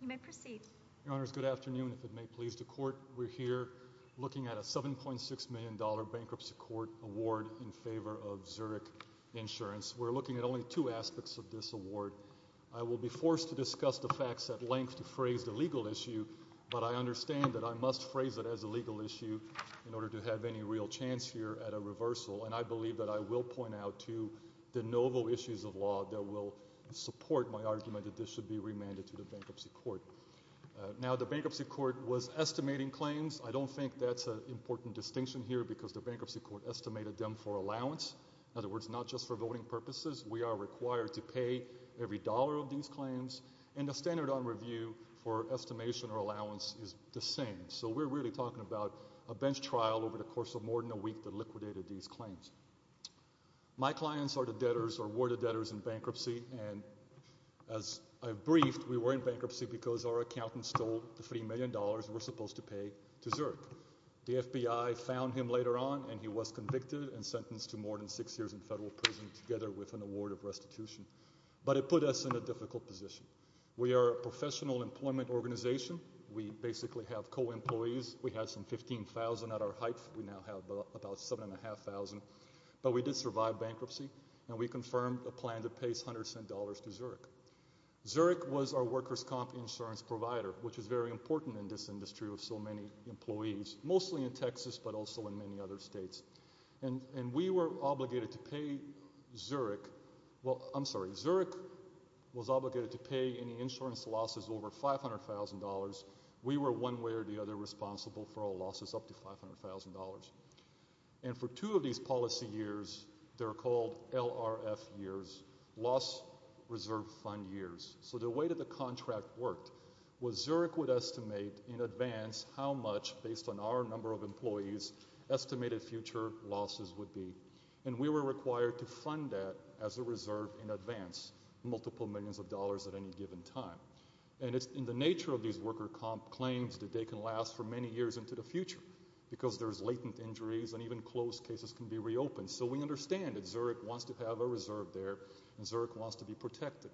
You may proceed. Your Honors, good afternoon. If it may please the Court, we're here looking at a $7.6 million bankruptcy court award in favor of Zurich Insurance. We're looking at only two aspects of this award. I will be forced to discuss the facts at length to phrase the legal issue, but I understand that I must phrase it as a legal issue in order to have any real chance here at a reversal, and I believe that I will point out two de novo issues of law that will support my argument that this should be remanded to the bankruptcy court. Now the bankruptcy court was estimating claims. I don't think that's an important distinction here because the bankruptcy court estimated them for allowance. In other words, not just for voting purposes. We are required to pay every dollar of these claims, and the standard on review for estimation or allowance is the same. So we're really talking about a bench trial over the course of more than a week that liquidated these claims. My clients are the debtors or were the debtors in bankruptcy, and as I've briefed, we were in bankruptcy because our accountant stole the $3 million we're supposed to pay to Zurich. The FBI found him later on, and he was convicted and sentenced to more than six years in federal prison together with an award of restitution, but it put us in a difficult position. We are a professional employment organization. We basically have co-employees. We had some 15,000 at our height. We now have about 7,500, but we did survive bankruptcy, and we confirmed a plan to pay $100 to Zurich. Zurich was our workers' comp insurance provider, which is very important in this industry with so many employees, mostly in Texas, but also in many other states, and we were obligated to pay Zurich—well, I'm sorry. Zurich was obligated to pay any insurance losses over $500,000. We were one way or the other responsible for all losses up to $500,000, and for two of these policy years, they're called LRF years, loss reserve fund years. So the way that the contract worked was Zurich would estimate in advance how much, based on our number of employees, estimated future losses would be, and we were required to fund that as a reserve in advance, multiple millions of dollars at any given time, and in the nature of these worker comp claims, that they can last for many years into the future, because there's latent injuries, and even closed cases can be reopened. So we understand that Zurich wants to have a reserve there, and Zurich wants to be protected.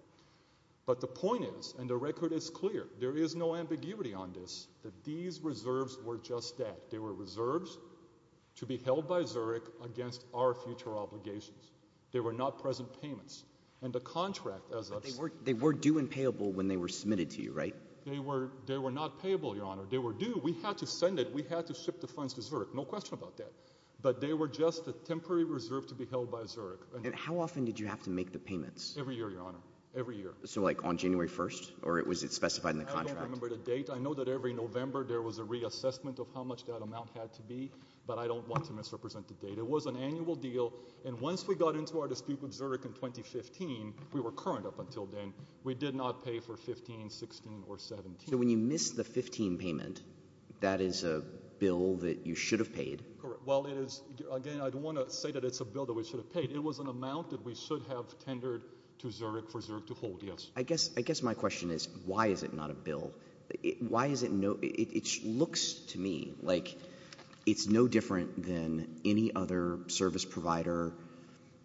But the point is, and the record is clear, there is no ambiguity on this, that these reserves were just that. They were reserves to be held by Zurich against our future obligations. They were not present payments. And the contract, as I've said— They were due and payable when they were submitted to you, right? They were not payable, Your Honor. They were due. We had to send it. We had to ship the funds to Zurich. No question about that. But they were just a temporary reserve to be held by Zurich. And how often did you have to make the payments? Every year, Your Honor. Every year. So like, on January 1st? Or was it specified in the contract? I don't remember the date. I know that every November there was a reassessment of how much that amount had to be, but I don't want to misrepresent the date. It was an annual deal, and once we got into our dispute with Zurich in 2015, we were current up until then. We did not pay for 2015, 2016, or 2017. So when you missed the 2015 payment, that is a bill that you should have paid? Correct. Well, it is—again, I don't want to say that it's a bill that we should have paid. It was an amount that we should have tendered to Zurich for Zurich to hold, yes. I guess my question is, why is it not a bill? Why is it no—it looks to me like it's no different than any other service provider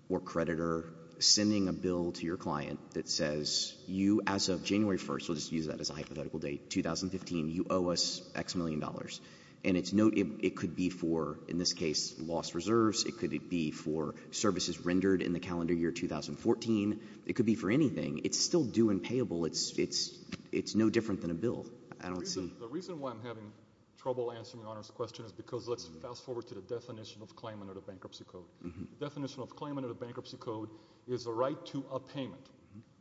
or creditor sending a bill to your client that says, you, as of January 1st—we'll just use that as a hypothetical date—2015, you owe us X million dollars. And it's no—it could be for, in this case, lost reserves. It could be for services rendered in the calendar year 2014. It could be for anything. It's still due and payable. It's no different than a bill. I don't see— The reason why I'm having trouble answering your Honor's question is because—let's bankruptcy code is a right to a payment,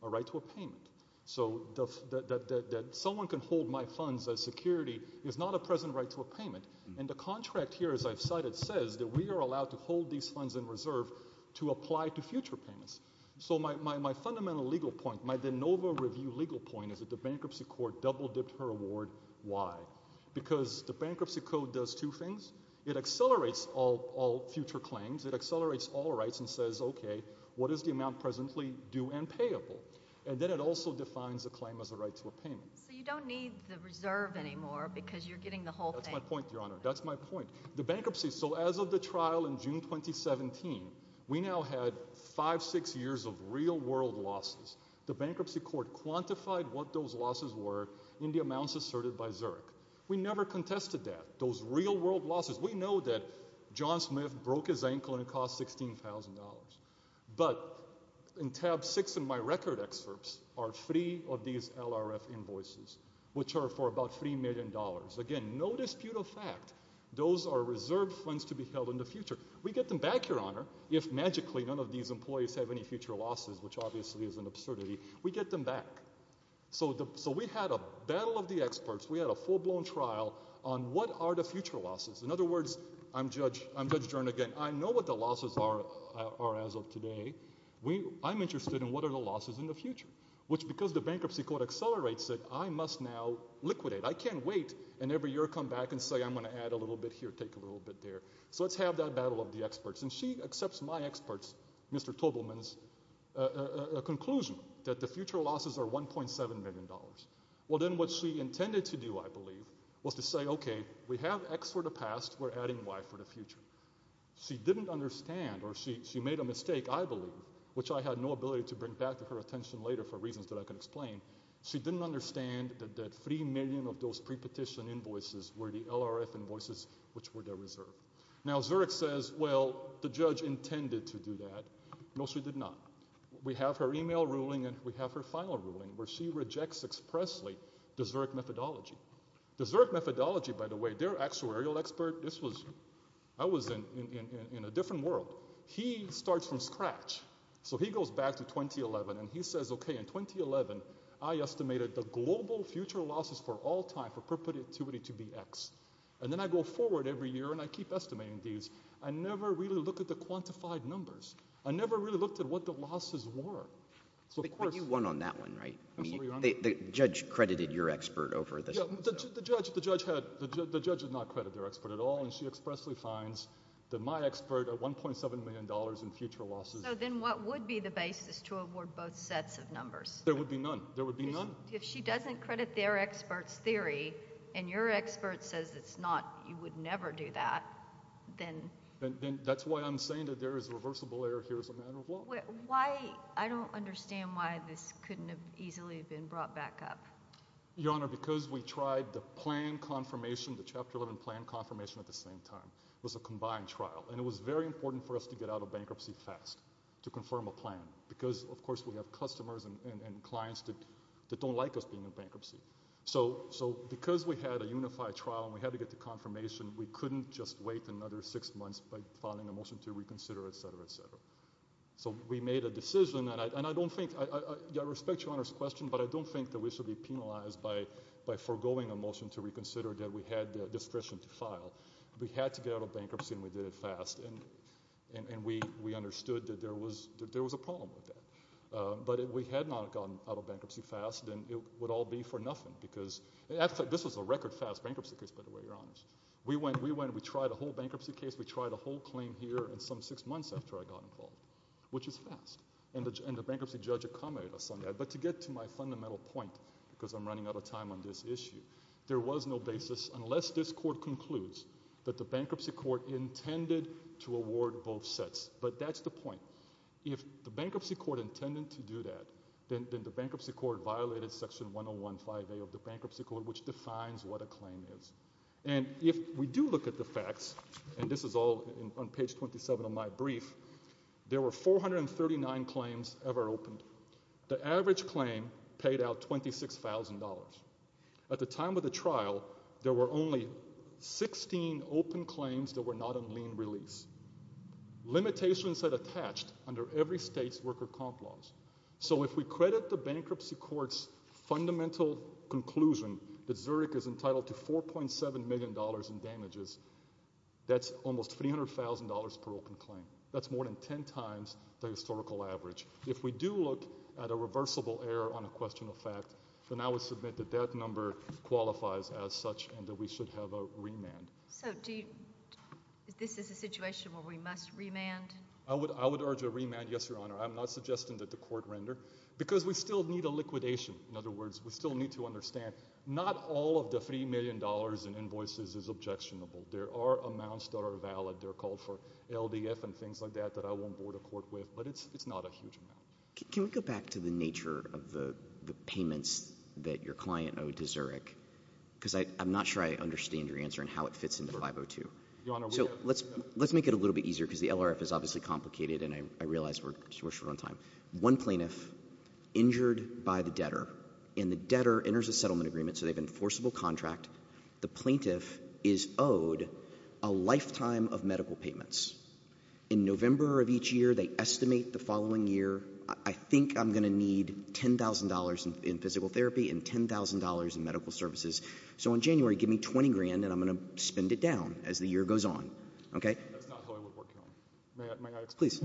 a right to a payment. So that someone can hold my funds as security is not a present right to a payment. And the contract here, as I've cited, says that we are allowed to hold these funds in reserve to apply to future payments. So my fundamental legal point, my de novo review legal point, is that the bankruptcy court double-dipped her award. Why? Because the bankruptcy code does two things. It accelerates all future claims. It accelerates all rights and says, OK, what is the amount presently due and payable? And then it also defines a claim as a right to a payment. So you don't need the reserve anymore because you're getting the whole thing. That's my point, Your Honor. That's my point. The bankruptcy—so as of the trial in June 2017, we now had five, six years of real-world losses. The bankruptcy court quantified what those losses were in the amounts asserted by Zurich. We never contested that, those real-world losses. We know that John Smith broke his ankle and it cost $16,000. But in tab six in my record excerpts are three of these LRF invoices, which are for about $3 million. Again, no dispute of fact, those are reserve funds to be held in the future. We get them back, Your Honor, if magically none of these employees have any future losses, which obviously is an absurdity. We get them back. So we had a battle of the experts. We had a full-blown trial on what are the future losses. In other words, I'm Judge Jernigan. I know what the losses are as of today. I'm interested in what are the losses in the future, which because the bankruptcy court accelerates it, I must now liquidate. I can't wait and every year come back and say, I'm going to add a little bit here, take a little bit there. So let's have that battle of the experts. And she accepts my experts, Mr. Tobelman's conclusion that the future losses are $1.7 million. Well, then what she intended to do, I believe, was to say, okay, we have X for the past, we're adding Y for the future. She didn't understand or she made a mistake, I believe, which I had no ability to bring back to her attention later for reasons that I can explain. She didn't understand that 3 million of those pre-petition invoices were the LRF invoices, which were their reserve. Now Zurich says, well, the judge intended to do that. No, she did not. We have her email ruling and we have her final ruling where she rejects expressly the Zurich methodology. The Zurich methodology, by the way, their actuarial expert, this was, I was in a different world. He starts from scratch. So he goes back to 2011 and he says, okay, in 2011, I estimated the global future losses for all time for perpetuity to be X. And then I go forward every year and I keep estimating these. I never really looked at the quantified numbers. I never really looked at what the losses were. So of course... But you won on that one, right? Absolutely, Your Honor. I mean, the judge credited your expert over the... Yeah, the judge, the judge had, the judge did not credit their expert at all and she expressly finds that my expert at $1.7 million in future losses... So then what would be the basis to award both sets of numbers? There would be none. There would be none. If she doesn't credit their expert's theory and your expert says it's not, you would never do that, then... That's why I'm saying that there is reversible error here as a matter of law. Why... I don't understand why this couldn't have easily been brought back up. Your Honor, because we tried the plan confirmation, the Chapter 11 plan confirmation at the same time. It was a combined trial. And it was very important for us to get out of bankruptcy fast, to confirm a plan. Because of course we have customers and clients that don't like us being in bankruptcy. So because we had a unified trial and we had to get the confirmation, we couldn't just wait another six months by filing a motion to reconsider, et cetera, et cetera. So we made a decision and I don't think... I respect Your Honor's question, but I don't think that we should be penalized by forgoing a motion to reconsider that we had discretion to file. We had to get out of bankruptcy and we did it fast. And we understood that there was a problem with that. But if we had not gotten out of bankruptcy fast, then it would all be for nothing. Because... this was a record fast bankruptcy case, by the way, Your Honors. We went and we tried the whole bankruptcy case, we tried the whole claim here and some six months after I got involved, which is fast. And the bankruptcy judge accommodated us on that. But to get to my fundamental point, because I'm running out of time on this issue, there was no basis, unless this Court concludes, that the Bankruptcy Court intended to award both sets. But that's the point. If the Bankruptcy Court intended to do that, then the Bankruptcy Court violated Section 101.5A of the Bankruptcy Court, which defines what a claim is. And if we do look at the facts, and this is all on page 27 of my brief, there were 439 claims ever opened. The average claim paid out $26,000. At the time of the trial, there were only 16 open claims that were not on lien release. Limitations that attached under every state's worker comp laws. So if we credit the Bankruptcy Court's fundamental conclusion that Zurich is entitled to $4.7 million in damages, that's almost $300,000 per open claim. That's more than 10 times the historical average. If we do look at a reversible error on a question of fact, then I would submit that that number qualifies as such and that we should have a remand. So do you, this is a situation where we must remand? I would urge a remand, yes, Your Honor. I'm not suggesting that the court render, because we still need a liquidation. In other words, we still need to understand, not all of the $3 million in invoices is objectionable. There are amounts that are valid. They're called for LDF and things like that, that I won't board a court with, but it's not a huge amount. Can we go back to the nature of the payments that your client owed to Zurich? Because I'm not sure I understand your answer and how it fits into 502. Your Honor, we have— So let's make it a little bit easier, because the LRF is obviously complicated and I realize we're short on time. One plaintiff injured by the debtor, and the debtor enters a settlement agreement, so they've an enforceable contract. The plaintiff is owed a lifetime of medical payments. In November of each year, they estimate the following year, I think I'm going to need $10,000 in physical therapy and $10,000 in medical services. So in January, give me $20,000, and I'm going to spend it down as the year goes on, okay? That's not how I would work it out. May I explain? Please.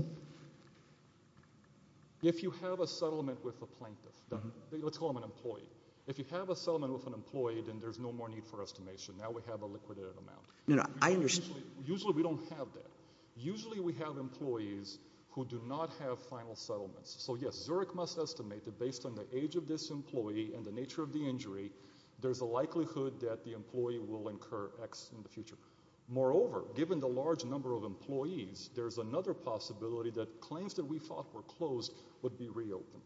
If you have a settlement with a plaintiff, let's call him an employee. If you have a settlement with an employee, then there's no more need for estimation. Now we have a liquidated amount. No, no. I understand. Usually we don't have that. Usually we have employees who do not have final settlements. So yes, Zurich must estimate that based on the age of this employee and the nature of the injury, there's a likelihood that the employee will incur X in the future. Moreover, given the large number of employees, there's another possibility that claims that we thought were closed would be reopened.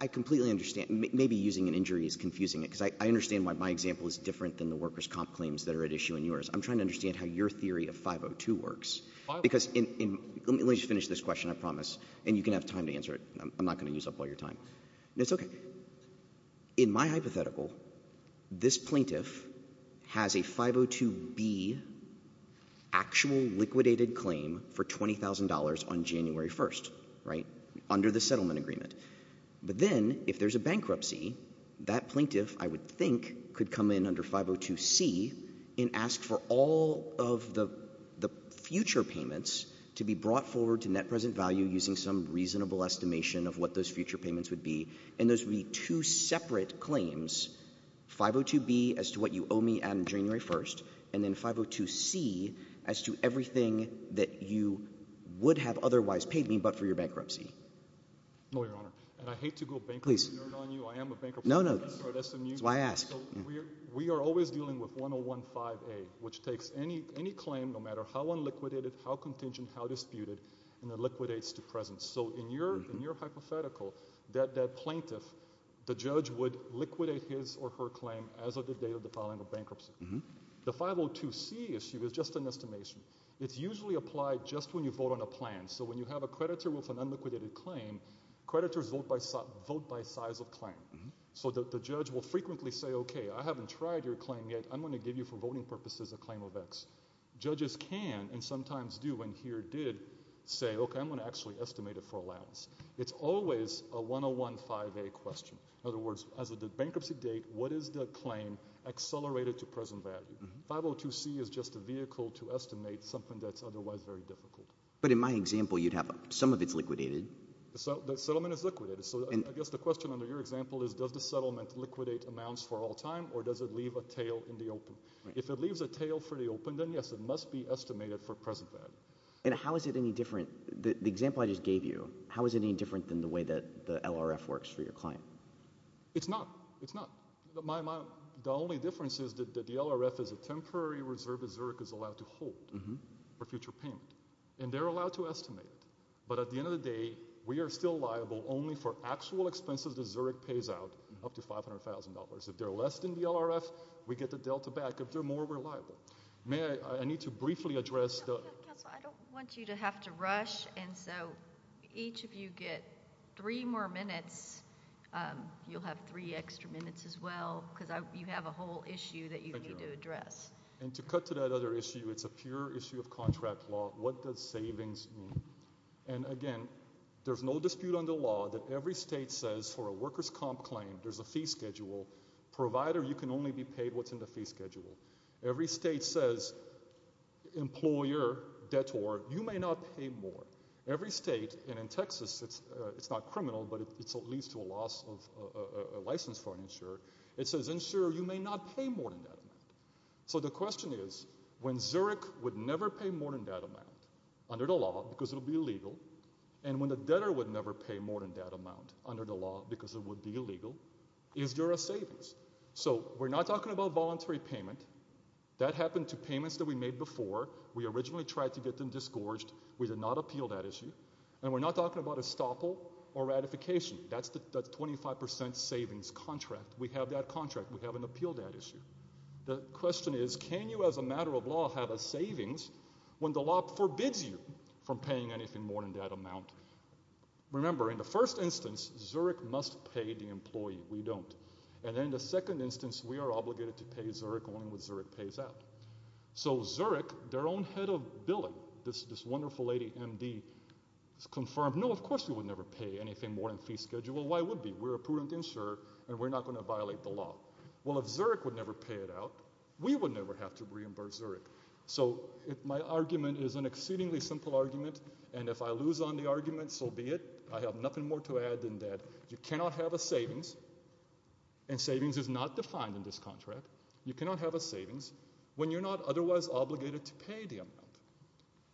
I completely understand. Maybe using an injury is confusing it, because I understand why my example is different than the workers' comp claims that are at issue in yours. I'm trying to understand how your theory of 502 works. Because let me just finish this question, I promise, and you can have time to answer it. I'm not going to use up all your time. No, it's okay. So, in my hypothetical, this plaintiff has a 502B actual liquidated claim for $20,000 on January 1st, right, under the settlement agreement. But then, if there's a bankruptcy, that plaintiff, I would think, could come in under 502C and ask for all of the future payments to be brought forward to net present value using some reasonable estimation of what those future payments would be. And those would be two separate claims, 502B as to what you owe me on January 1st, and then 502C as to everything that you would have otherwise paid me but for your bankruptcy. No, Your Honor. And I hate to go bankruptcy nerd on you. Please. I am a bankruptcy lawyer. No, no. That's why I asked. So, we are always dealing with 1015A, which takes any claim, no matter how unliquidated, how contingent, how disputed, and then liquidates to present. So, in your hypothetical, that plaintiff, the judge would liquidate his or her claim as of the date of the filing of bankruptcy. The 502C issue is just an estimation. It's usually applied just when you vote on a plan. So, when you have a creditor with an unliquidated claim, creditors vote by size of claim. So, the judge will frequently say, okay, I haven't tried your claim yet. I'm going to give you, for voting purposes, a claim of X. Judges can, and sometimes do, and here did, say, okay, I'm going to actually estimate it for allowance. It's always a 1015A question. In other words, as of the bankruptcy date, what is the claim accelerated to present value? 502C is just a vehicle to estimate something that's otherwise very difficult. But in my example, you'd have some of it's liquidated. So, the settlement is liquidated. So, I guess the question under your example is, does the settlement liquidate amounts for all time or does it leave a tail in the open? If it leaves a tail for the open, then yes, it must be estimated for present value. And how is it any different, the example I just gave you, how is it any different than the way that the LRF works for your client? It's not. It's not. The only difference is that the LRF is a temporary reserve that Zurich is allowed to hold for future payment. And they're allowed to estimate it. But at the end of the day, we are still liable only for actual expenses that Zurich pays out up to $500,000. If they're less than the LRF, we get the delta back. If they're more, we're liable. May I, I need to briefly address the... Counselor, I don't want you to have to rush. And so, each of you get three more minutes. You'll have three extra minutes as well because you have a whole issue that you need to address. And to cut to that other issue, it's a pure issue of contract law. What does savings mean? And again, there's no dispute under law that every state says for a worker's comp claim, there's a fee schedule, provider, you can only be paid what's in the fee schedule. Every state says, employer, debtor, you may not pay more. Every state, and in Texas, it's not criminal, but it leads to a loss of license for an insurer. It says, insurer, you may not pay more than that amount. So the question is, when Zurich would never pay more than that amount under the law because it would be illegal, and when the debtor would never pay more than that amount under the law, is there a savings? So we're not talking about voluntary payment. That happened to payments that we made before. We originally tried to get them disgorged. We did not appeal that issue. And we're not talking about estoppel or ratification. That's 25% savings contract. We have that contract. We haven't appealed that issue. The question is, can you, as a matter of law, have a savings when the law forbids you from paying anything more than that amount? Remember, in the first instance, Zurich must pay the employee. We don't. And in the second instance, we are obligated to pay Zurich only when Zurich pays out. So Zurich, their own head of billing, this wonderful lady, MD, confirmed, no, of course we would never pay anything more than fee schedule. Why would we? We're a prudent insurer, and we're not going to violate the law. Well, if Zurich would never pay it out, we would never have to reimburse Zurich. So my argument is an exceedingly simple argument. And if I lose on the argument, so be it. I have nothing more to add than that. You cannot have a savings, and savings is not defined in this contract. You cannot have a savings when you're not otherwise obligated to pay the amount.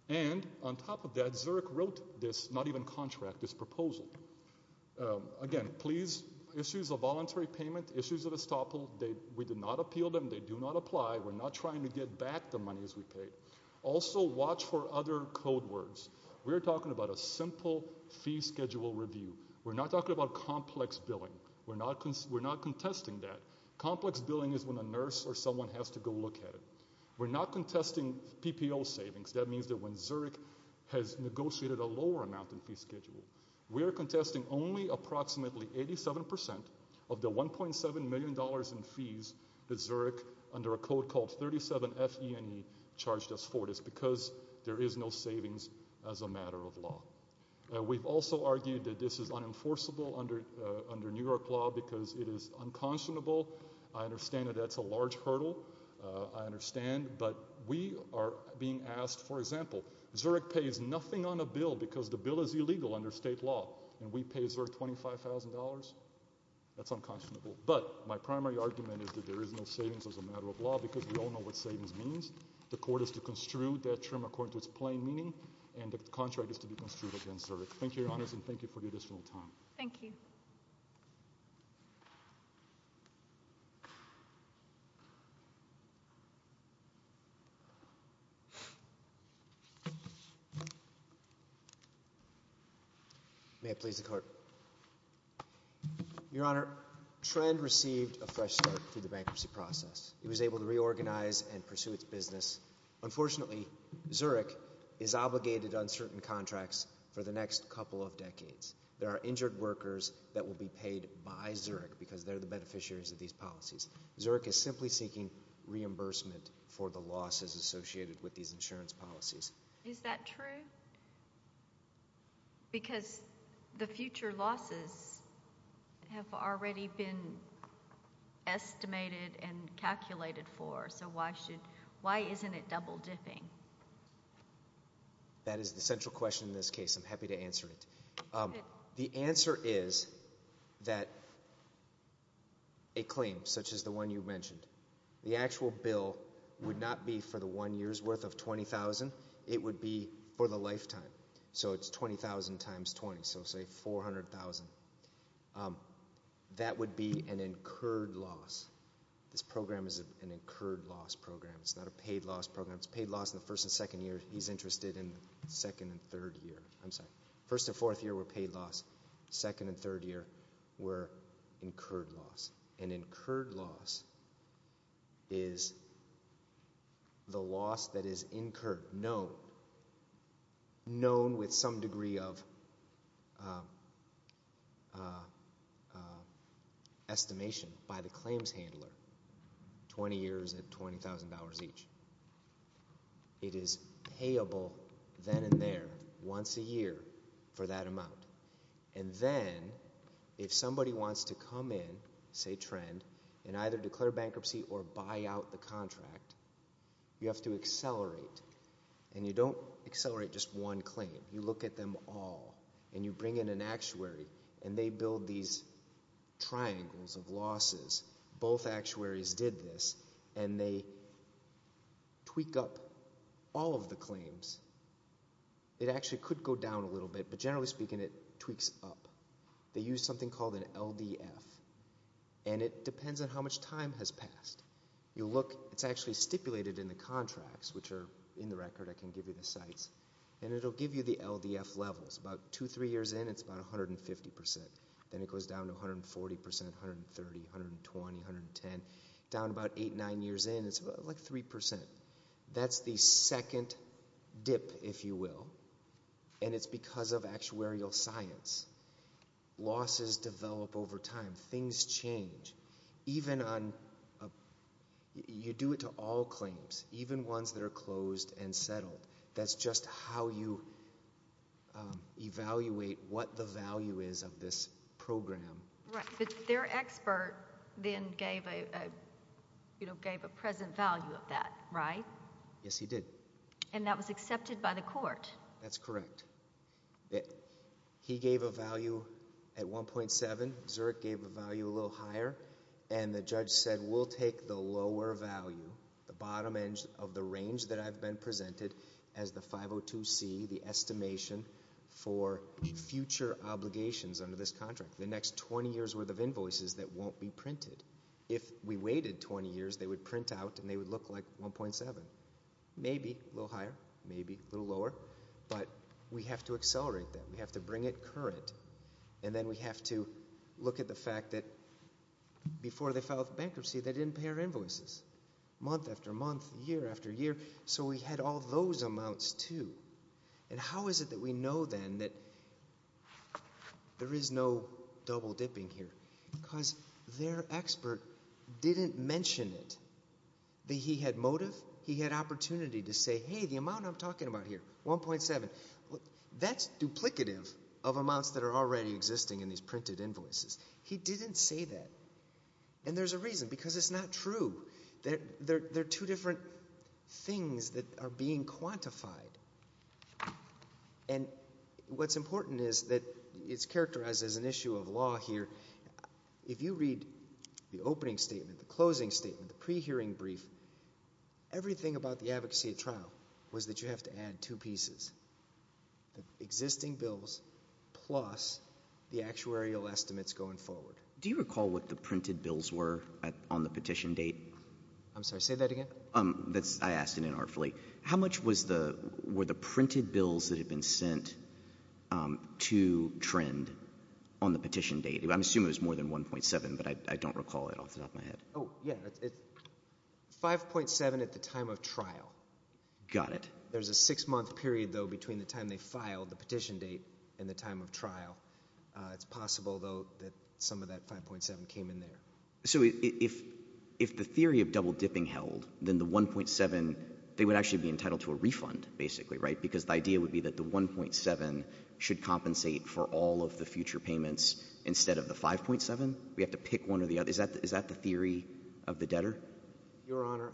And on top of that, Zurich wrote this, not even contract, this proposal. Again, please, issues of voluntary payment, issues of estoppel, we did not appeal them. They do not apply. We're not trying to get back the money as we paid. Also watch for other code words. We're talking about a simple fee schedule review. We're not talking about complex billing. We're not contesting that. Complex billing is when a nurse or someone has to go look at it. We're not contesting PPO savings. That means that when Zurich has negotiated a lower amount in fee schedule. We're contesting only approximately 87% of the $1.7 million in fees that Zurich, under a code called 37FE&E, charged us for this because there is no savings as a matter of law. We've also argued that this is unenforceable under New York law because it is unconscionable. I understand that that's a large hurdle. I understand. But we are being asked, for example, Zurich pays nothing on a bill because the bill is illegal under state law, and we pay Zurich $25,000. That's unconscionable. But my primary argument is that there is no savings as a matter of law because we all know what savings means. The court is to construe that term according to its plain meaning, and the contract is to be construed against Zurich. Thank you, Your Honors, and thank you for the additional time. Thank you. May I please have the card? Your Honor, Trend received a fresh start through the bankruptcy process. It was able to reorganize and pursue its business. Unfortunately, Zurich is obligated on certain contracts for the next couple of decades. There are injured workers that will be paid by Zurich because they're the beneficiaries of these policies. Zurich is simply seeking reimbursement for the losses associated with these insurance policies. Is that true? Because the future losses have already been estimated and calculated for, so why isn't it double-dipping? That is the central question in this case. I'm happy to answer it. The answer is that a claim such as the one you mentioned, the actual bill would not be for the one year's worth of $20,000. It would be for the lifetime, so it's $20,000 times 20, so say $400,000. That would be an incurred loss. This program is an incurred loss program. It's not a paid loss program. It's paid loss in the first and second year. He's interested in the second and third year. I'm sorry. First and fourth year were paid loss. Second and third year were incurred loss. An incurred loss is the loss that is incurred, known, known with some degree of estimation by the claims handler, 20 years at $20,000 each. It is payable then and there, once a year, for that amount, and then if somebody wants to come in, say Trend, and either declare bankruptcy or buy out the contract, you have to accelerate, and you don't accelerate just one claim. You look at them all, and you bring in an actuary, and they build these triangles of losses. Both actuaries did this, and they tweak up all of the claims. It actually could go down a little bit, but generally speaking, it tweaks up. They use something called an LDF, and it depends on how much time has passed. You look, it's actually stipulated in the contracts, which are in the record. I can give you the sites, and it will give you the LDF levels. About two, three years in, it's about 150%. Then it goes down to 140%, 130, 120, 110. Down about eight, nine years in, it's like 3%. That's the second dip, if you will, and it's because of actuarial science. Losses develop over time. Things change. Even on, you do it to all claims, even ones that are closed and settled. That's just how you evaluate what the value is of this program. Their expert then gave a present value of that, right? Yes, he did. That was accepted by the court? That's correct. He gave a value at 1.7, Zurich gave a value a little higher, and the judge said, we'll take the lower value, the bottom end of the range that I've been presented as the 502C, the estimation for future obligations under this contract. The next 20 years' worth of invoices that won't be printed. If we waited 20 years, they would print out and they would look like 1.7. Maybe a little higher, maybe a little lower, but we have to accelerate that. We have to bring it current, and then we have to look at the fact that before they filed bankruptcy, they didn't pay our invoices. Month after month, year after year, so we had all those amounts, too. And how is it that we know then that there is no double-dipping here? Because their expert didn't mention it, that he had motive, he had opportunity to say, hey, the amount I'm talking about here, 1.7, that's duplicative of amounts that are already existing in these printed invoices. He didn't say that, and there's a reason, because it's not true. There are two different things that are being quantified, and what's important is that it's characterized as an issue of law here. If you read the opening statement, the closing statement, the pre-hearing brief, everything about the advocacy trial was that you have to add two pieces, the existing bills plus the actuarial estimates going forward. Do you recall what the printed bills were on the petition date? I'm sorry, say that again? I asked it inartfully. How much were the printed bills that had been sent to Trend on the petition date? I'm assuming it was more than 1.7, but I don't recall it off the top of my head. Oh, yeah, it's 5.7 at the time of trial. Got it. There's a six-month period, though, between the time they filed the petition date and the time of trial. It's possible, though, that some of that 5.7 came in there. So if the theory of double-dipping held, then the 1.7, they would actually be entitled to a refund, basically, right? Because the idea would be that the 1.7 should compensate for all of the future payments instead of the 5.7. We have to pick one or the other. Is that the theory of the debtor? Your Honor,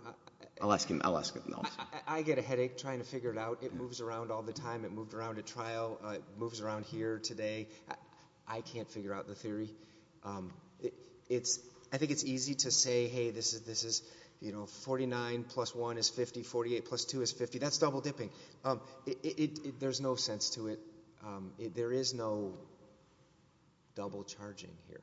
I get a headache trying to figure it out. It moves around all the time. It moved around at trial. It moves around here today. I can't figure out the theory. I think it's easy to say, hey, this is 49 plus 1 is 50, 48 plus 2 is 50. That's double-dipping. There's no sense to it. There is no double-charging here.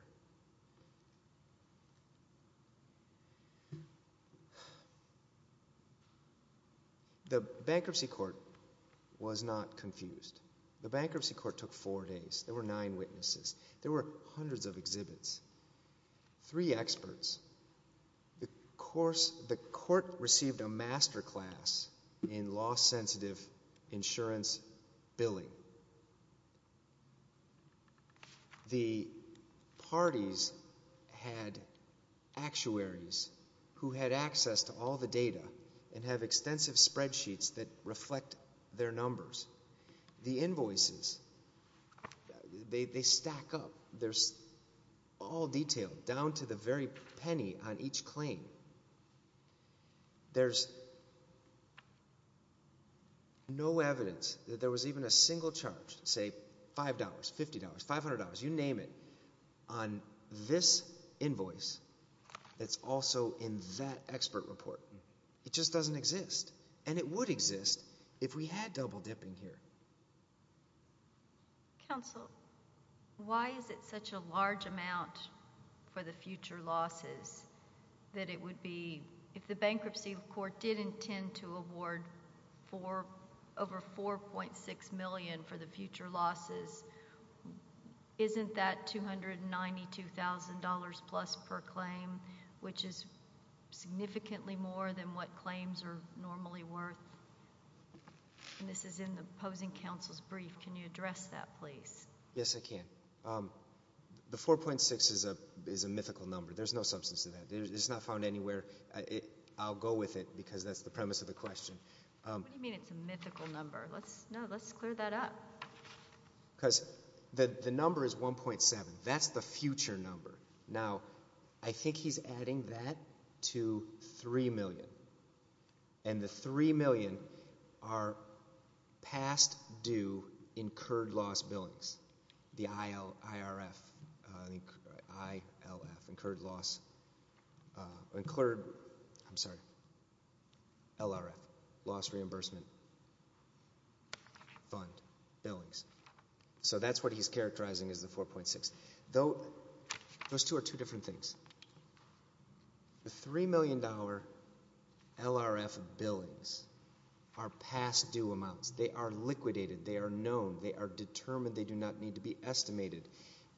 The bankruptcy court was not confused. The bankruptcy court took four days. There were nine witnesses. There were hundreds of exhibits. Three experts. The court received a master class in law-sensitive insurance billing. The parties had actuaries who had access to all the data and have extensive spreadsheets that reflect their numbers. The invoices, they stack up. There's all detail down to the very penny on each claim. There's no evidence that there was even a single charge, say $5, $50, $500, you name it, on this invoice that's also in that expert report. It just doesn't exist. And it would exist if we had double-dipping here. Counsel, why is it such a large amount for the future losses that it would be, if the bankruptcy court did intend to award over $4.6 million for the future losses, isn't that $292,000-plus per claim, which is significantly more than what claims are normally worth? And this is in the opposing counsel's brief. Can you address that, please? Yes, I can. The 4.6 is a mythical number. There's no substance to that. It's not found anywhere. I'll go with it, because that's the premise of the question. What do you mean it's a mythical number? No, let's clear that up. Because the number is 1.7. That's the future number. Now, I think he's adding that to $3 million. And the $3 million are past due incurred loss billings, the ILRF, incurred loss, LRF, loss reimbursement fund billings. So that's what he's characterizing as the 4.6. Those two are two different things. The $3 million LRF billings are past due amounts. They are liquidated. They are known. They are determined. They do not need to be estimated.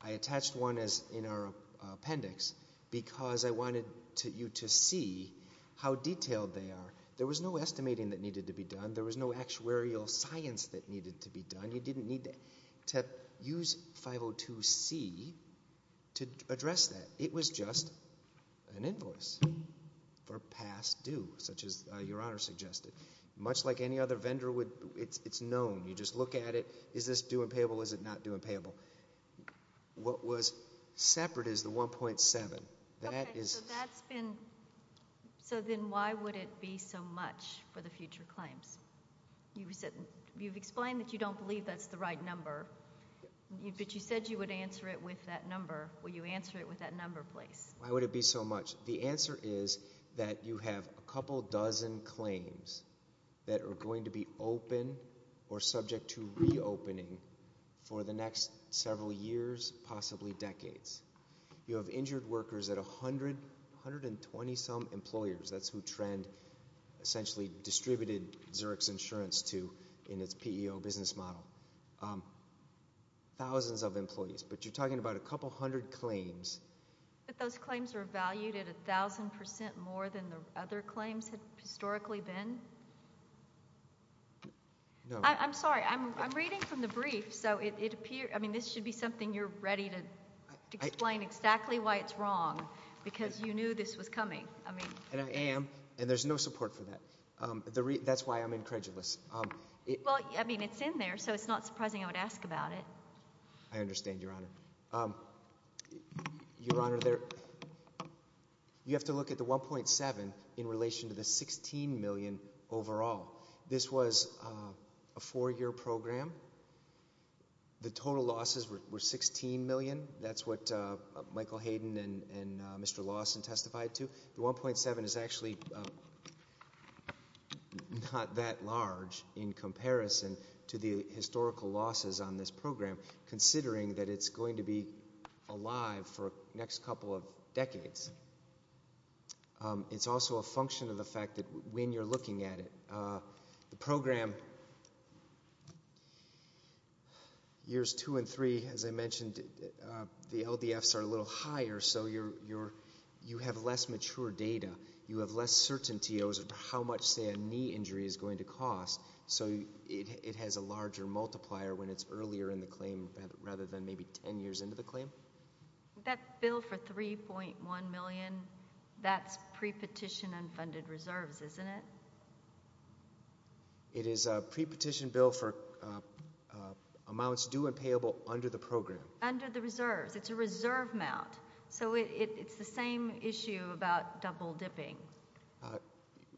I attached one in our appendix because I wanted you to see how detailed they are. There was no estimating that needed to be done. There was no actuarial science that needed to be done. You didn't need to use 502c to address that. It was just an invoice for past due, such as Your Honor suggested. Much like any other vendor, it's known. You just look at it. Is this due and payable? Is it not due and payable? What was separate is the 1.7. That is. So then why would it be so much for the future claims? You've explained that you don't believe that's the right number, but you said you would answer it with that number. Will you answer it with that number, please? Why would it be so much? The answer is that you have a couple dozen claims that are going to be open or subject to reopening for the next several years, possibly decades. You have injured workers at 120 some employers. That's who Trend essentially distributed Xerox insurance to in its PEO business model. Thousands of employees, but you're talking about a couple hundred claims. But those claims are valued at 1,000% more than the other claims have historically been? No. I'm sorry, I'm reading from the brief, so it appears, I mean, this should be something you're ready to explain exactly why it's wrong, because you knew this was coming. And I am, and there's no support for that. That's why I'm incredulous. Well, I mean, it's in there, so it's not surprising I would ask about it. I understand, Your Honor. Your Honor, you have to look at the 1.7 in relation to the 16 million overall. This was a four year program. The total losses were 16 million. That's what Michael Hayden and Mr. Lawson testified to. The 1.7 is actually not that large in comparison to the historical losses on this program, considering that it's going to be alive for the next couple of decades. It's also a function of the fact that when you're looking at it, the program, years two and three, as I mentioned, the LDFs are a little higher, so you have less mature data. You have less certainty as to how much, say, a knee injury is going to cost. So it has a larger multiplier when it's earlier in the claim rather than maybe ten years into the claim. That bill for 3.1 million, that's pre-petition unfunded reserves, isn't it? It is a pre-petition bill for amounts due and payable under the program. Under the reserves. It's a reserve amount. So it's the same issue about double dipping.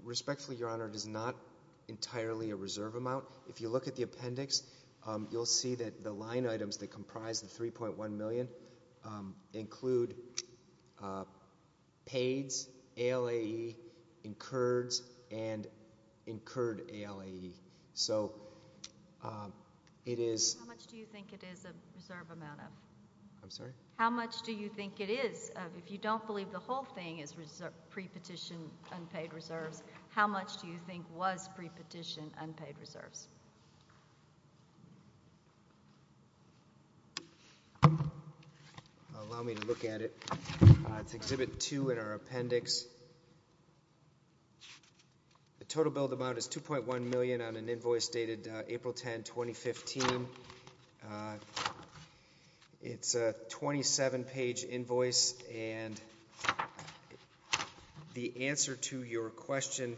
Respectfully, Your Honor, it is not entirely a reserve amount. If you look at the appendix, you'll see that the line items that comprise the 3.1 million include paids, ALAE, incurreds, and incurred ALAE. So it is- How much do you think it is a reserve amount of? I'm sorry? How much do you think it is? If you don't believe the whole thing is pre-petition unpaid reserves, how much do you think was pre-petition unpaid reserves? Allow me to look at it. It's exhibit two in our appendix. The total billed amount is 2.1 million on an invoice dated April 10, 2015. It's a 27 page invoice and the answer to your question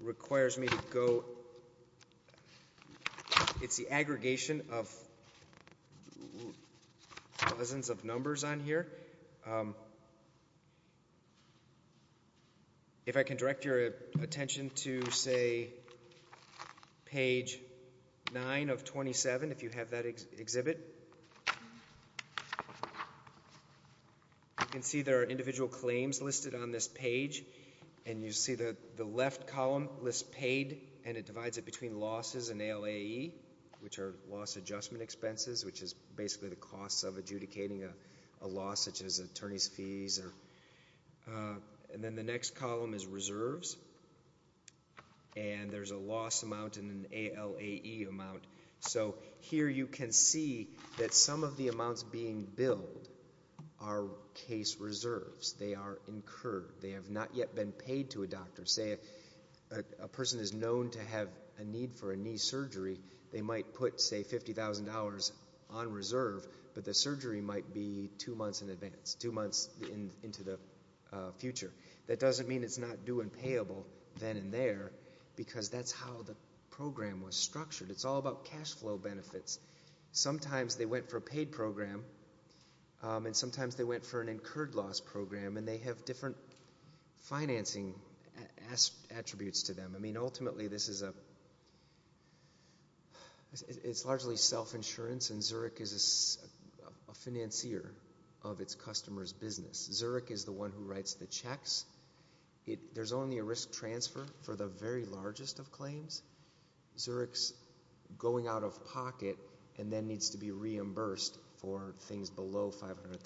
requires me to go, it's the aggregation of dozens of numbers on here. If I can direct your attention to, say, page nine of 27, if you have that exhibit. You can see there are individual claims listed on this page. And you see that the left column lists paid and it divides it between losses and ALAE, which are loss adjustment expenses, which is basically the cost of adjudicating a loss such as attorney's fees. And then the next column is reserves. And there's a loss amount and an ALAE amount. So here you can see that some of the amounts being billed are case reserves. They are incurred. They have not yet been paid to a doctor. Say a person is known to have a need for a knee surgery, they might put, say, $50,000 on reserve. But the surgery might be two months in advance, two months into the future. That doesn't mean it's not due and payable then and there, because that's how the program was structured. It's all about cash flow benefits. Sometimes they went for a paid program, and sometimes they went for an incurred loss program. And they have different financing attributes to them. I mean, ultimately, this is a, it's largely self-insurance, and Zurich is a financier of its customer's business. Zurich is the one who writes the checks. There's only a risk transfer for the very largest of claims. Zurich's going out of pocket and then needs to be reimbursed for things below 500,000.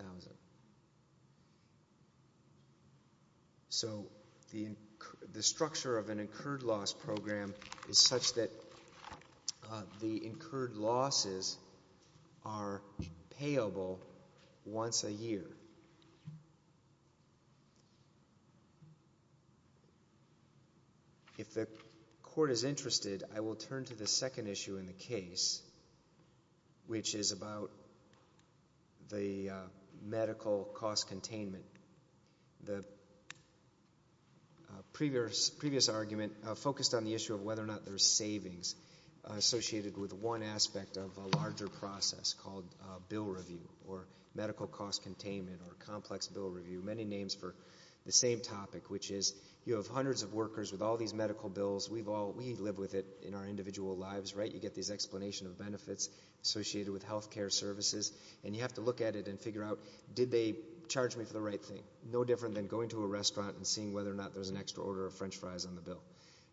So, the structure of an incurred loss program is such that the incurred losses are payable once a year. If the court is interested, I will turn to the second issue in the case, which is about the medical cost containment. The previous argument focused on the issue of whether or not there's savings associated with one aspect of a larger process called bill review or medical cost containment or complex bill review. Many names for the same topic, which is you have hundreds of workers with all these medical bills. We've all, we live with it in our individual lives, right? You get these explanation of benefits associated with healthcare services, and you have to look at it and figure out, did they charge me for the right thing? No different than going to a restaurant and seeing whether or not there's an extra order of french fries on the bill.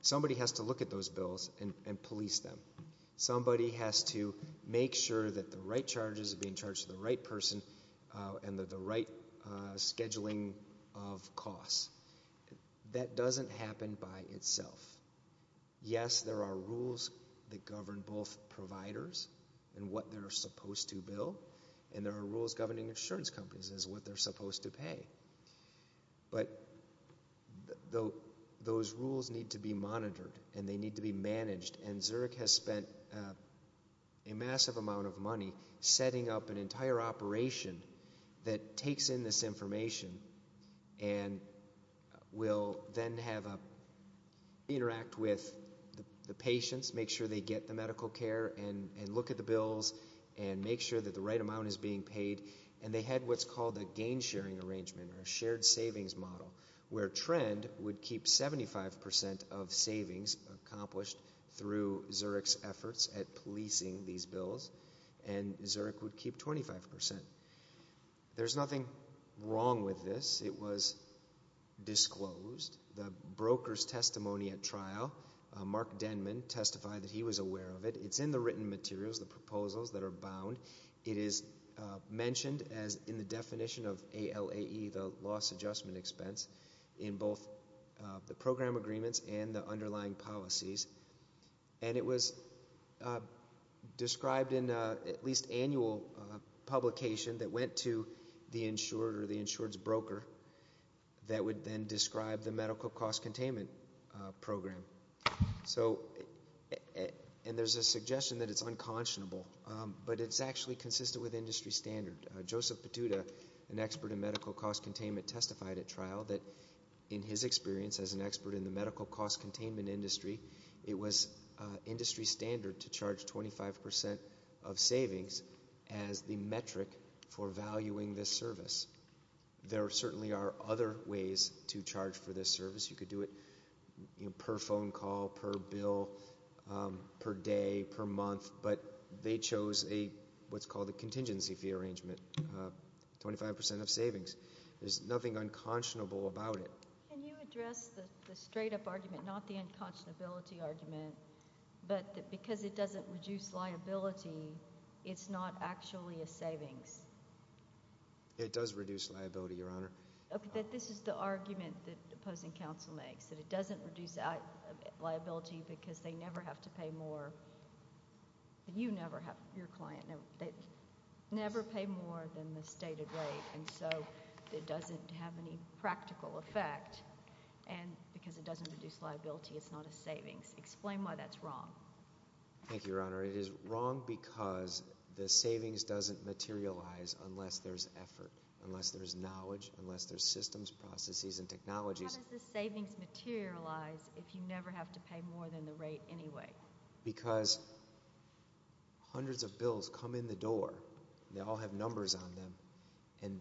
Somebody has to look at those bills and police them. Somebody has to make sure that the right charges are being charged to the right person and that the right scheduling of costs. That doesn't happen by itself. Yes, there are rules that govern both providers and what they're supposed to bill. And there are rules governing insurance companies as what they're supposed to pay. But those rules need to be monitored and they need to be managed. And Zurich has spent a massive amount of money setting up an entire operation that takes in this information and will then have a, interact with the patients, make sure they get the medical care, and look at the bills. And make sure that the right amount is being paid. And they had what's called a gain sharing arrangement, or a shared savings model. Where Trend would keep 75% of savings accomplished through Zurich's efforts at policing these bills. And Zurich would keep 25%. There's nothing wrong with this. It was disclosed. The broker's testimony at trial, Mark Denman, testified that he was aware of it. It's in the written materials, the proposals that are bound. It is mentioned as in the definition of ALAE, the loss adjustment expense, in both the program agreements and the underlying policies. And it was described in at least annual publication that went to the insured or the insured's broker. That would then describe the medical cost containment program. So, and there's a suggestion that it's unconscionable. But it's actually consistent with industry standard. Joseph Petuta, an expert in medical cost containment, testified at trial that, in his experience as an expert in the medical cost containment industry, it was industry standard to charge 25% of savings as the metric for valuing this service. There certainly are other ways to charge for this service. You could do it per phone call, per bill, per day, per month. But they chose what's called a contingency fee arrangement, 25% of savings. There's nothing unconscionable about it. Can you address the straight-up argument, not the unconscionability argument, but that because it doesn't reduce liability, it's not actually a savings? It does reduce liability, Your Honor. That this is the argument that opposing counsel makes, that it doesn't reduce liability because they never have to pay more. You never have, your client, never pay more than the stated rate. And so it doesn't have any practical effect. And because it doesn't reduce liability, it's not a savings. Explain why that's wrong. Thank you, Your Honor. It is wrong because the savings doesn't materialize unless there's effort, unless there's knowledge, unless there's systems, processes, and technologies. How does the savings materialize if you never have to pay more than the rate anyway? Because hundreds of bills come in the door. They all have numbers on them. And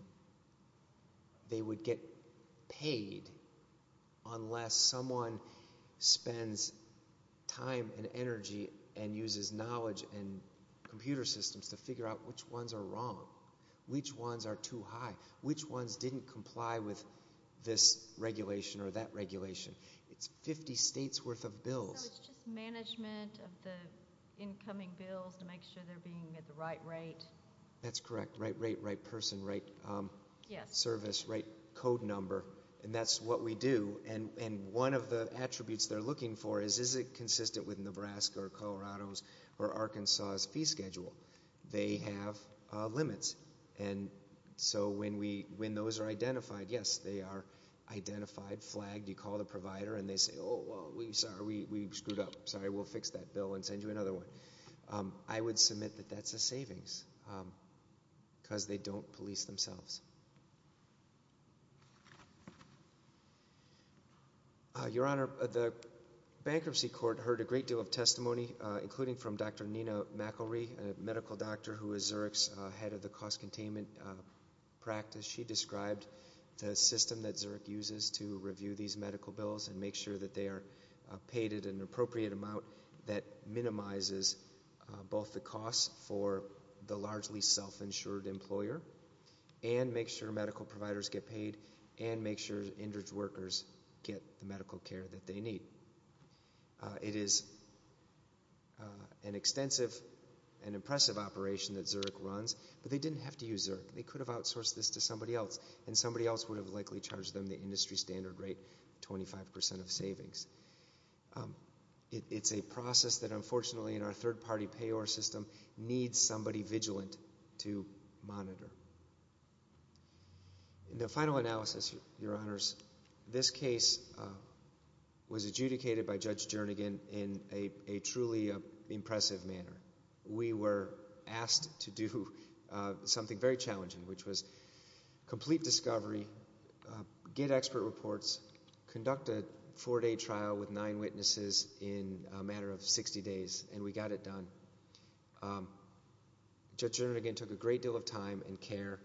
they would get paid unless someone spends time and energy and uses knowledge and computer systems to figure out which ones are wrong, which ones are too high, which ones didn't comply with this regulation or that regulation. It's 50 states' worth of bills. So it's just management of the incoming bills to make sure they're being at the right rate? That's correct. Right rate, right person, right service, right code number. And that's what we do. And one of the attributes they're looking for is, is it consistent with Nebraska or Colorado's or Arkansas's fee schedule? They have limits. And so when those are identified, yes, they are identified, flagged. You call the provider and they say, oh, sorry, we screwed up. Sorry, we'll fix that bill and send you another one. I would submit that that's a savings. Because they don't police themselves. Your Honor, the bankruptcy court heard a great deal of testimony, including from Dr. Nina McElry, a medical doctor who is Zurich's head of the cost containment practice. She described the system that Zurich uses to review these medical bills and make sure that they are paid at an appropriate amount that minimizes both the cost for the largely self-insured employer and make sure medical providers get paid and make sure the injured workers get the medical care that they need. It is an extensive and impressive operation that Zurich runs. But they didn't have to use Zurich. They could have outsourced this to somebody else. And somebody else would have likely charged them the industry standard rate, 25% of savings. It's a process that unfortunately in our third-party payor system needs somebody vigilant to monitor. The final analysis, Your Honors, this case was adjudicated by Judge Jernigan in a truly impressive manner. We were asked to do something very challenging, which was complete discovery, get expert reports, conduct a four-day trial with nine witnesses in a matter of 60 days. And we got it done. Judge Jernigan took a great deal of time and care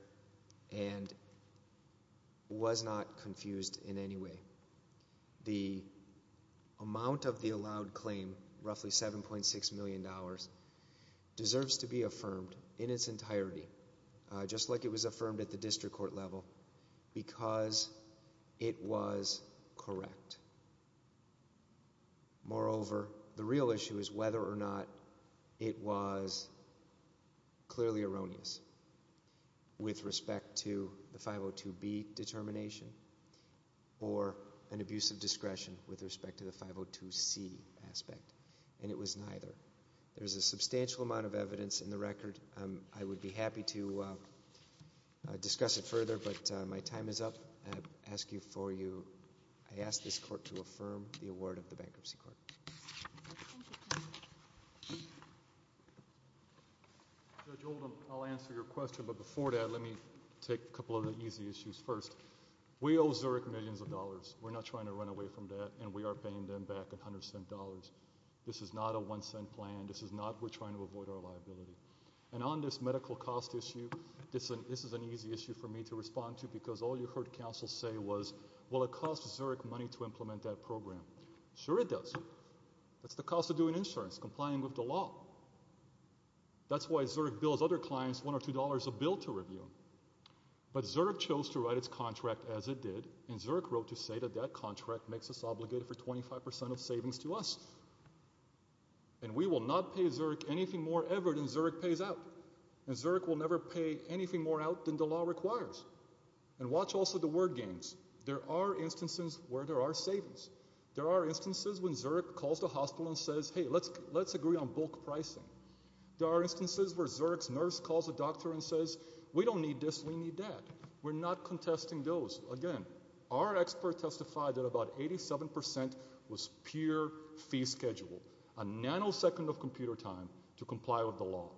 and was not confused in any way. The amount of the allowed claim, roughly $7.6 million, deserves to be affirmed in its entirety, just like it was affirmed at the district court level, because it was correct. Moreover, the real issue is whether or not it was clearly erroneous with respect to the 502B determination or an abuse of discretion with respect to the 502C aspect. And it was neither. There's a substantial amount of evidence in the record. I would be happy to discuss it further, but my time is up. I ask you for you, I ask this court to affirm the award of the bankruptcy court. Thank you, Your Honor. Judge Oldham, I'll answer your question, but before that, let me take a couple of the easy issues first. We owe Zurich millions of dollars. We're not trying to run away from that, and we are paying them back $100. This is not a one-cent plan. This is not, we're trying to avoid our liability. And on this medical cost issue, this is an easy issue for me to respond to, because all you heard counsel say was, well it costs Zurich money to implement that program. Sure it does. That's the cost of doing insurance, complying with the law. That's why Zurich bills other clients $1 or $2 a bill to review. But Zurich chose to write its contract as it did, and Zurich wrote to say that that contract makes us obligated for 25% of savings to us. And we will not pay Zurich anything more ever than Zurich pays out. And Zurich will never pay anything more out than the law requires. And watch also the word games. There are instances where there are savings. There are instances when Zurich calls the hospital and says, hey, let's agree on bulk pricing. There are instances where Zurich's nurse calls the doctor and says, we don't need this, we need that. We're not contesting those. Again, our expert testified that about 87% was pure fee schedule. A nanosecond of computer time to comply with the law.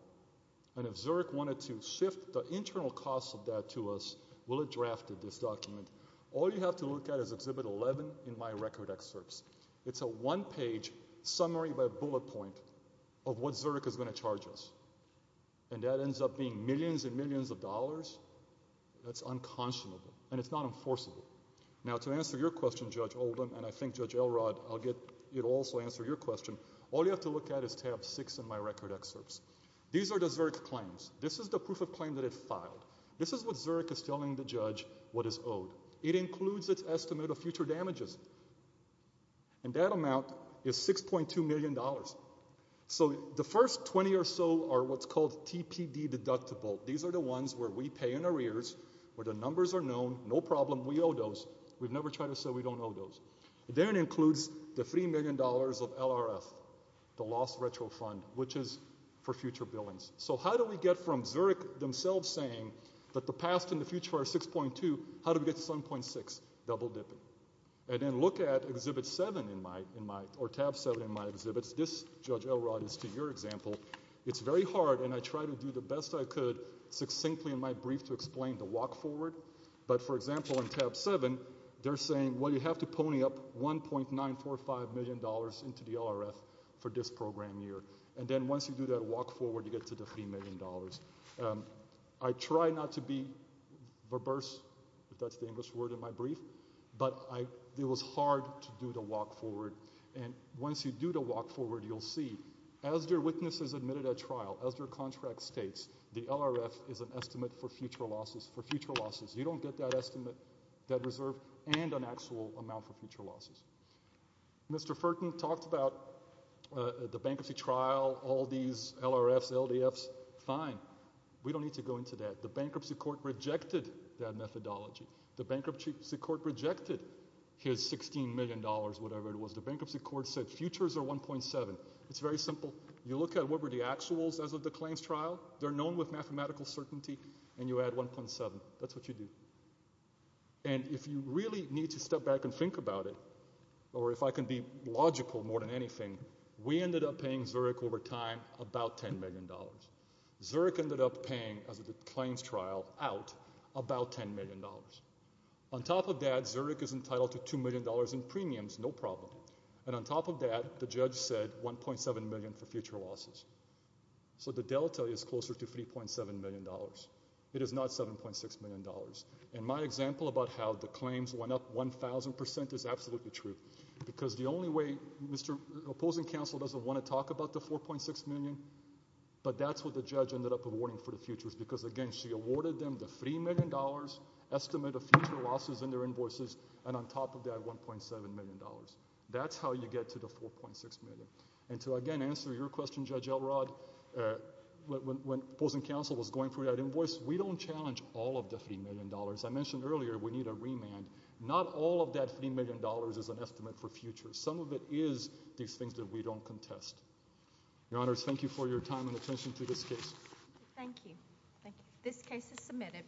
And if Zurich wanted to shift the internal cost of that to us, we'll have drafted this document. All you have to look at is exhibit 11 in my record excerpts. It's a one page summary by bullet point of what Zurich is going to charge us. And that ends up being millions and millions of dollars. That's unconscionable, and it's not enforceable. Now to answer your question, Judge Oldham, and I think Judge Elrod, I'll get you to also answer your question. All you have to look at is tab six in my record excerpts. These are the Zurich claims. This is the proof of claim that it filed. This is what Zurich is telling the judge what is owed. It includes its estimate of future damages. And that amount is $6.2 million. So the first 20 or so are what's called TPD deductible. These are the ones where we pay in arrears, where the numbers are known. No problem, we owe those. We've never tried to say we don't owe those. Then it includes the $3 million of LRF, the lost retro fund, which is for future billings. So how do we get from Zurich themselves saying that the past and the future are 6.2, how do we get to 7.6? Double dipping. And then look at exhibit seven in my, or tab seven in my exhibits. This, Judge Elrod, is to your example. It's very hard, and I try to do the best I could succinctly in my brief to explain the walk forward, but for example, in tab seven, they're saying, well, you have to pony up $1.945 million into the LRF for this program year. And then once you do that walk forward, you get to the $3 million. I try not to be verbose, if that's the English word in my brief, but it was hard to do the walk forward. And once you do the walk forward, you'll see, as your witness has admitted at trial, as your contract states, the LRF is an estimate for future losses, for future losses. You don't get that estimate, that reserve, and an actual amount for future losses. Mr. Ferton talked about the bankruptcy trial, all these LRFs, LDFs. Fine, we don't need to go into that. The bankruptcy court rejected that methodology. The bankruptcy court rejected his $16 million, whatever it was, the bankruptcy court said futures are 1.7. It's very simple. You look at what were the actuals as of the claims trial, they're known with mathematical certainty, and you add 1.7, that's what you do. And if you really need to step back and think about it, or if I can be logical more than anything, we ended up paying Zurich over time about $10 million. Zurich ended up paying, as of the claims trial, out about $10 million. On top of that, Zurich is entitled to $2 million in premiums, no problem. And on top of that, the judge said 1.7 million for future losses. So the delta is closer to $3.7 million. It is not $7.6 million. And my example about how the claims went up 1,000% is absolutely true, because the only way, Mr. Opposing Counsel doesn't want to talk about the $4.6 million, but that's what the judge ended up awarding for the futures, because again, she awarded them the $3 million estimate of future losses in their invoices, and on top of that, $1.7 million. That's how you get to the $4.6 million. And to again answer your question, Judge Elrod, when opposing counsel was going through that invoice, we don't challenge all of the $3 million. I mentioned earlier, we need a remand. Not all of that $3 million is an estimate for future. Some of it is these things that we don't contest. Your Honors, thank you for your time and attention to this case. Thank you. This case is submitted.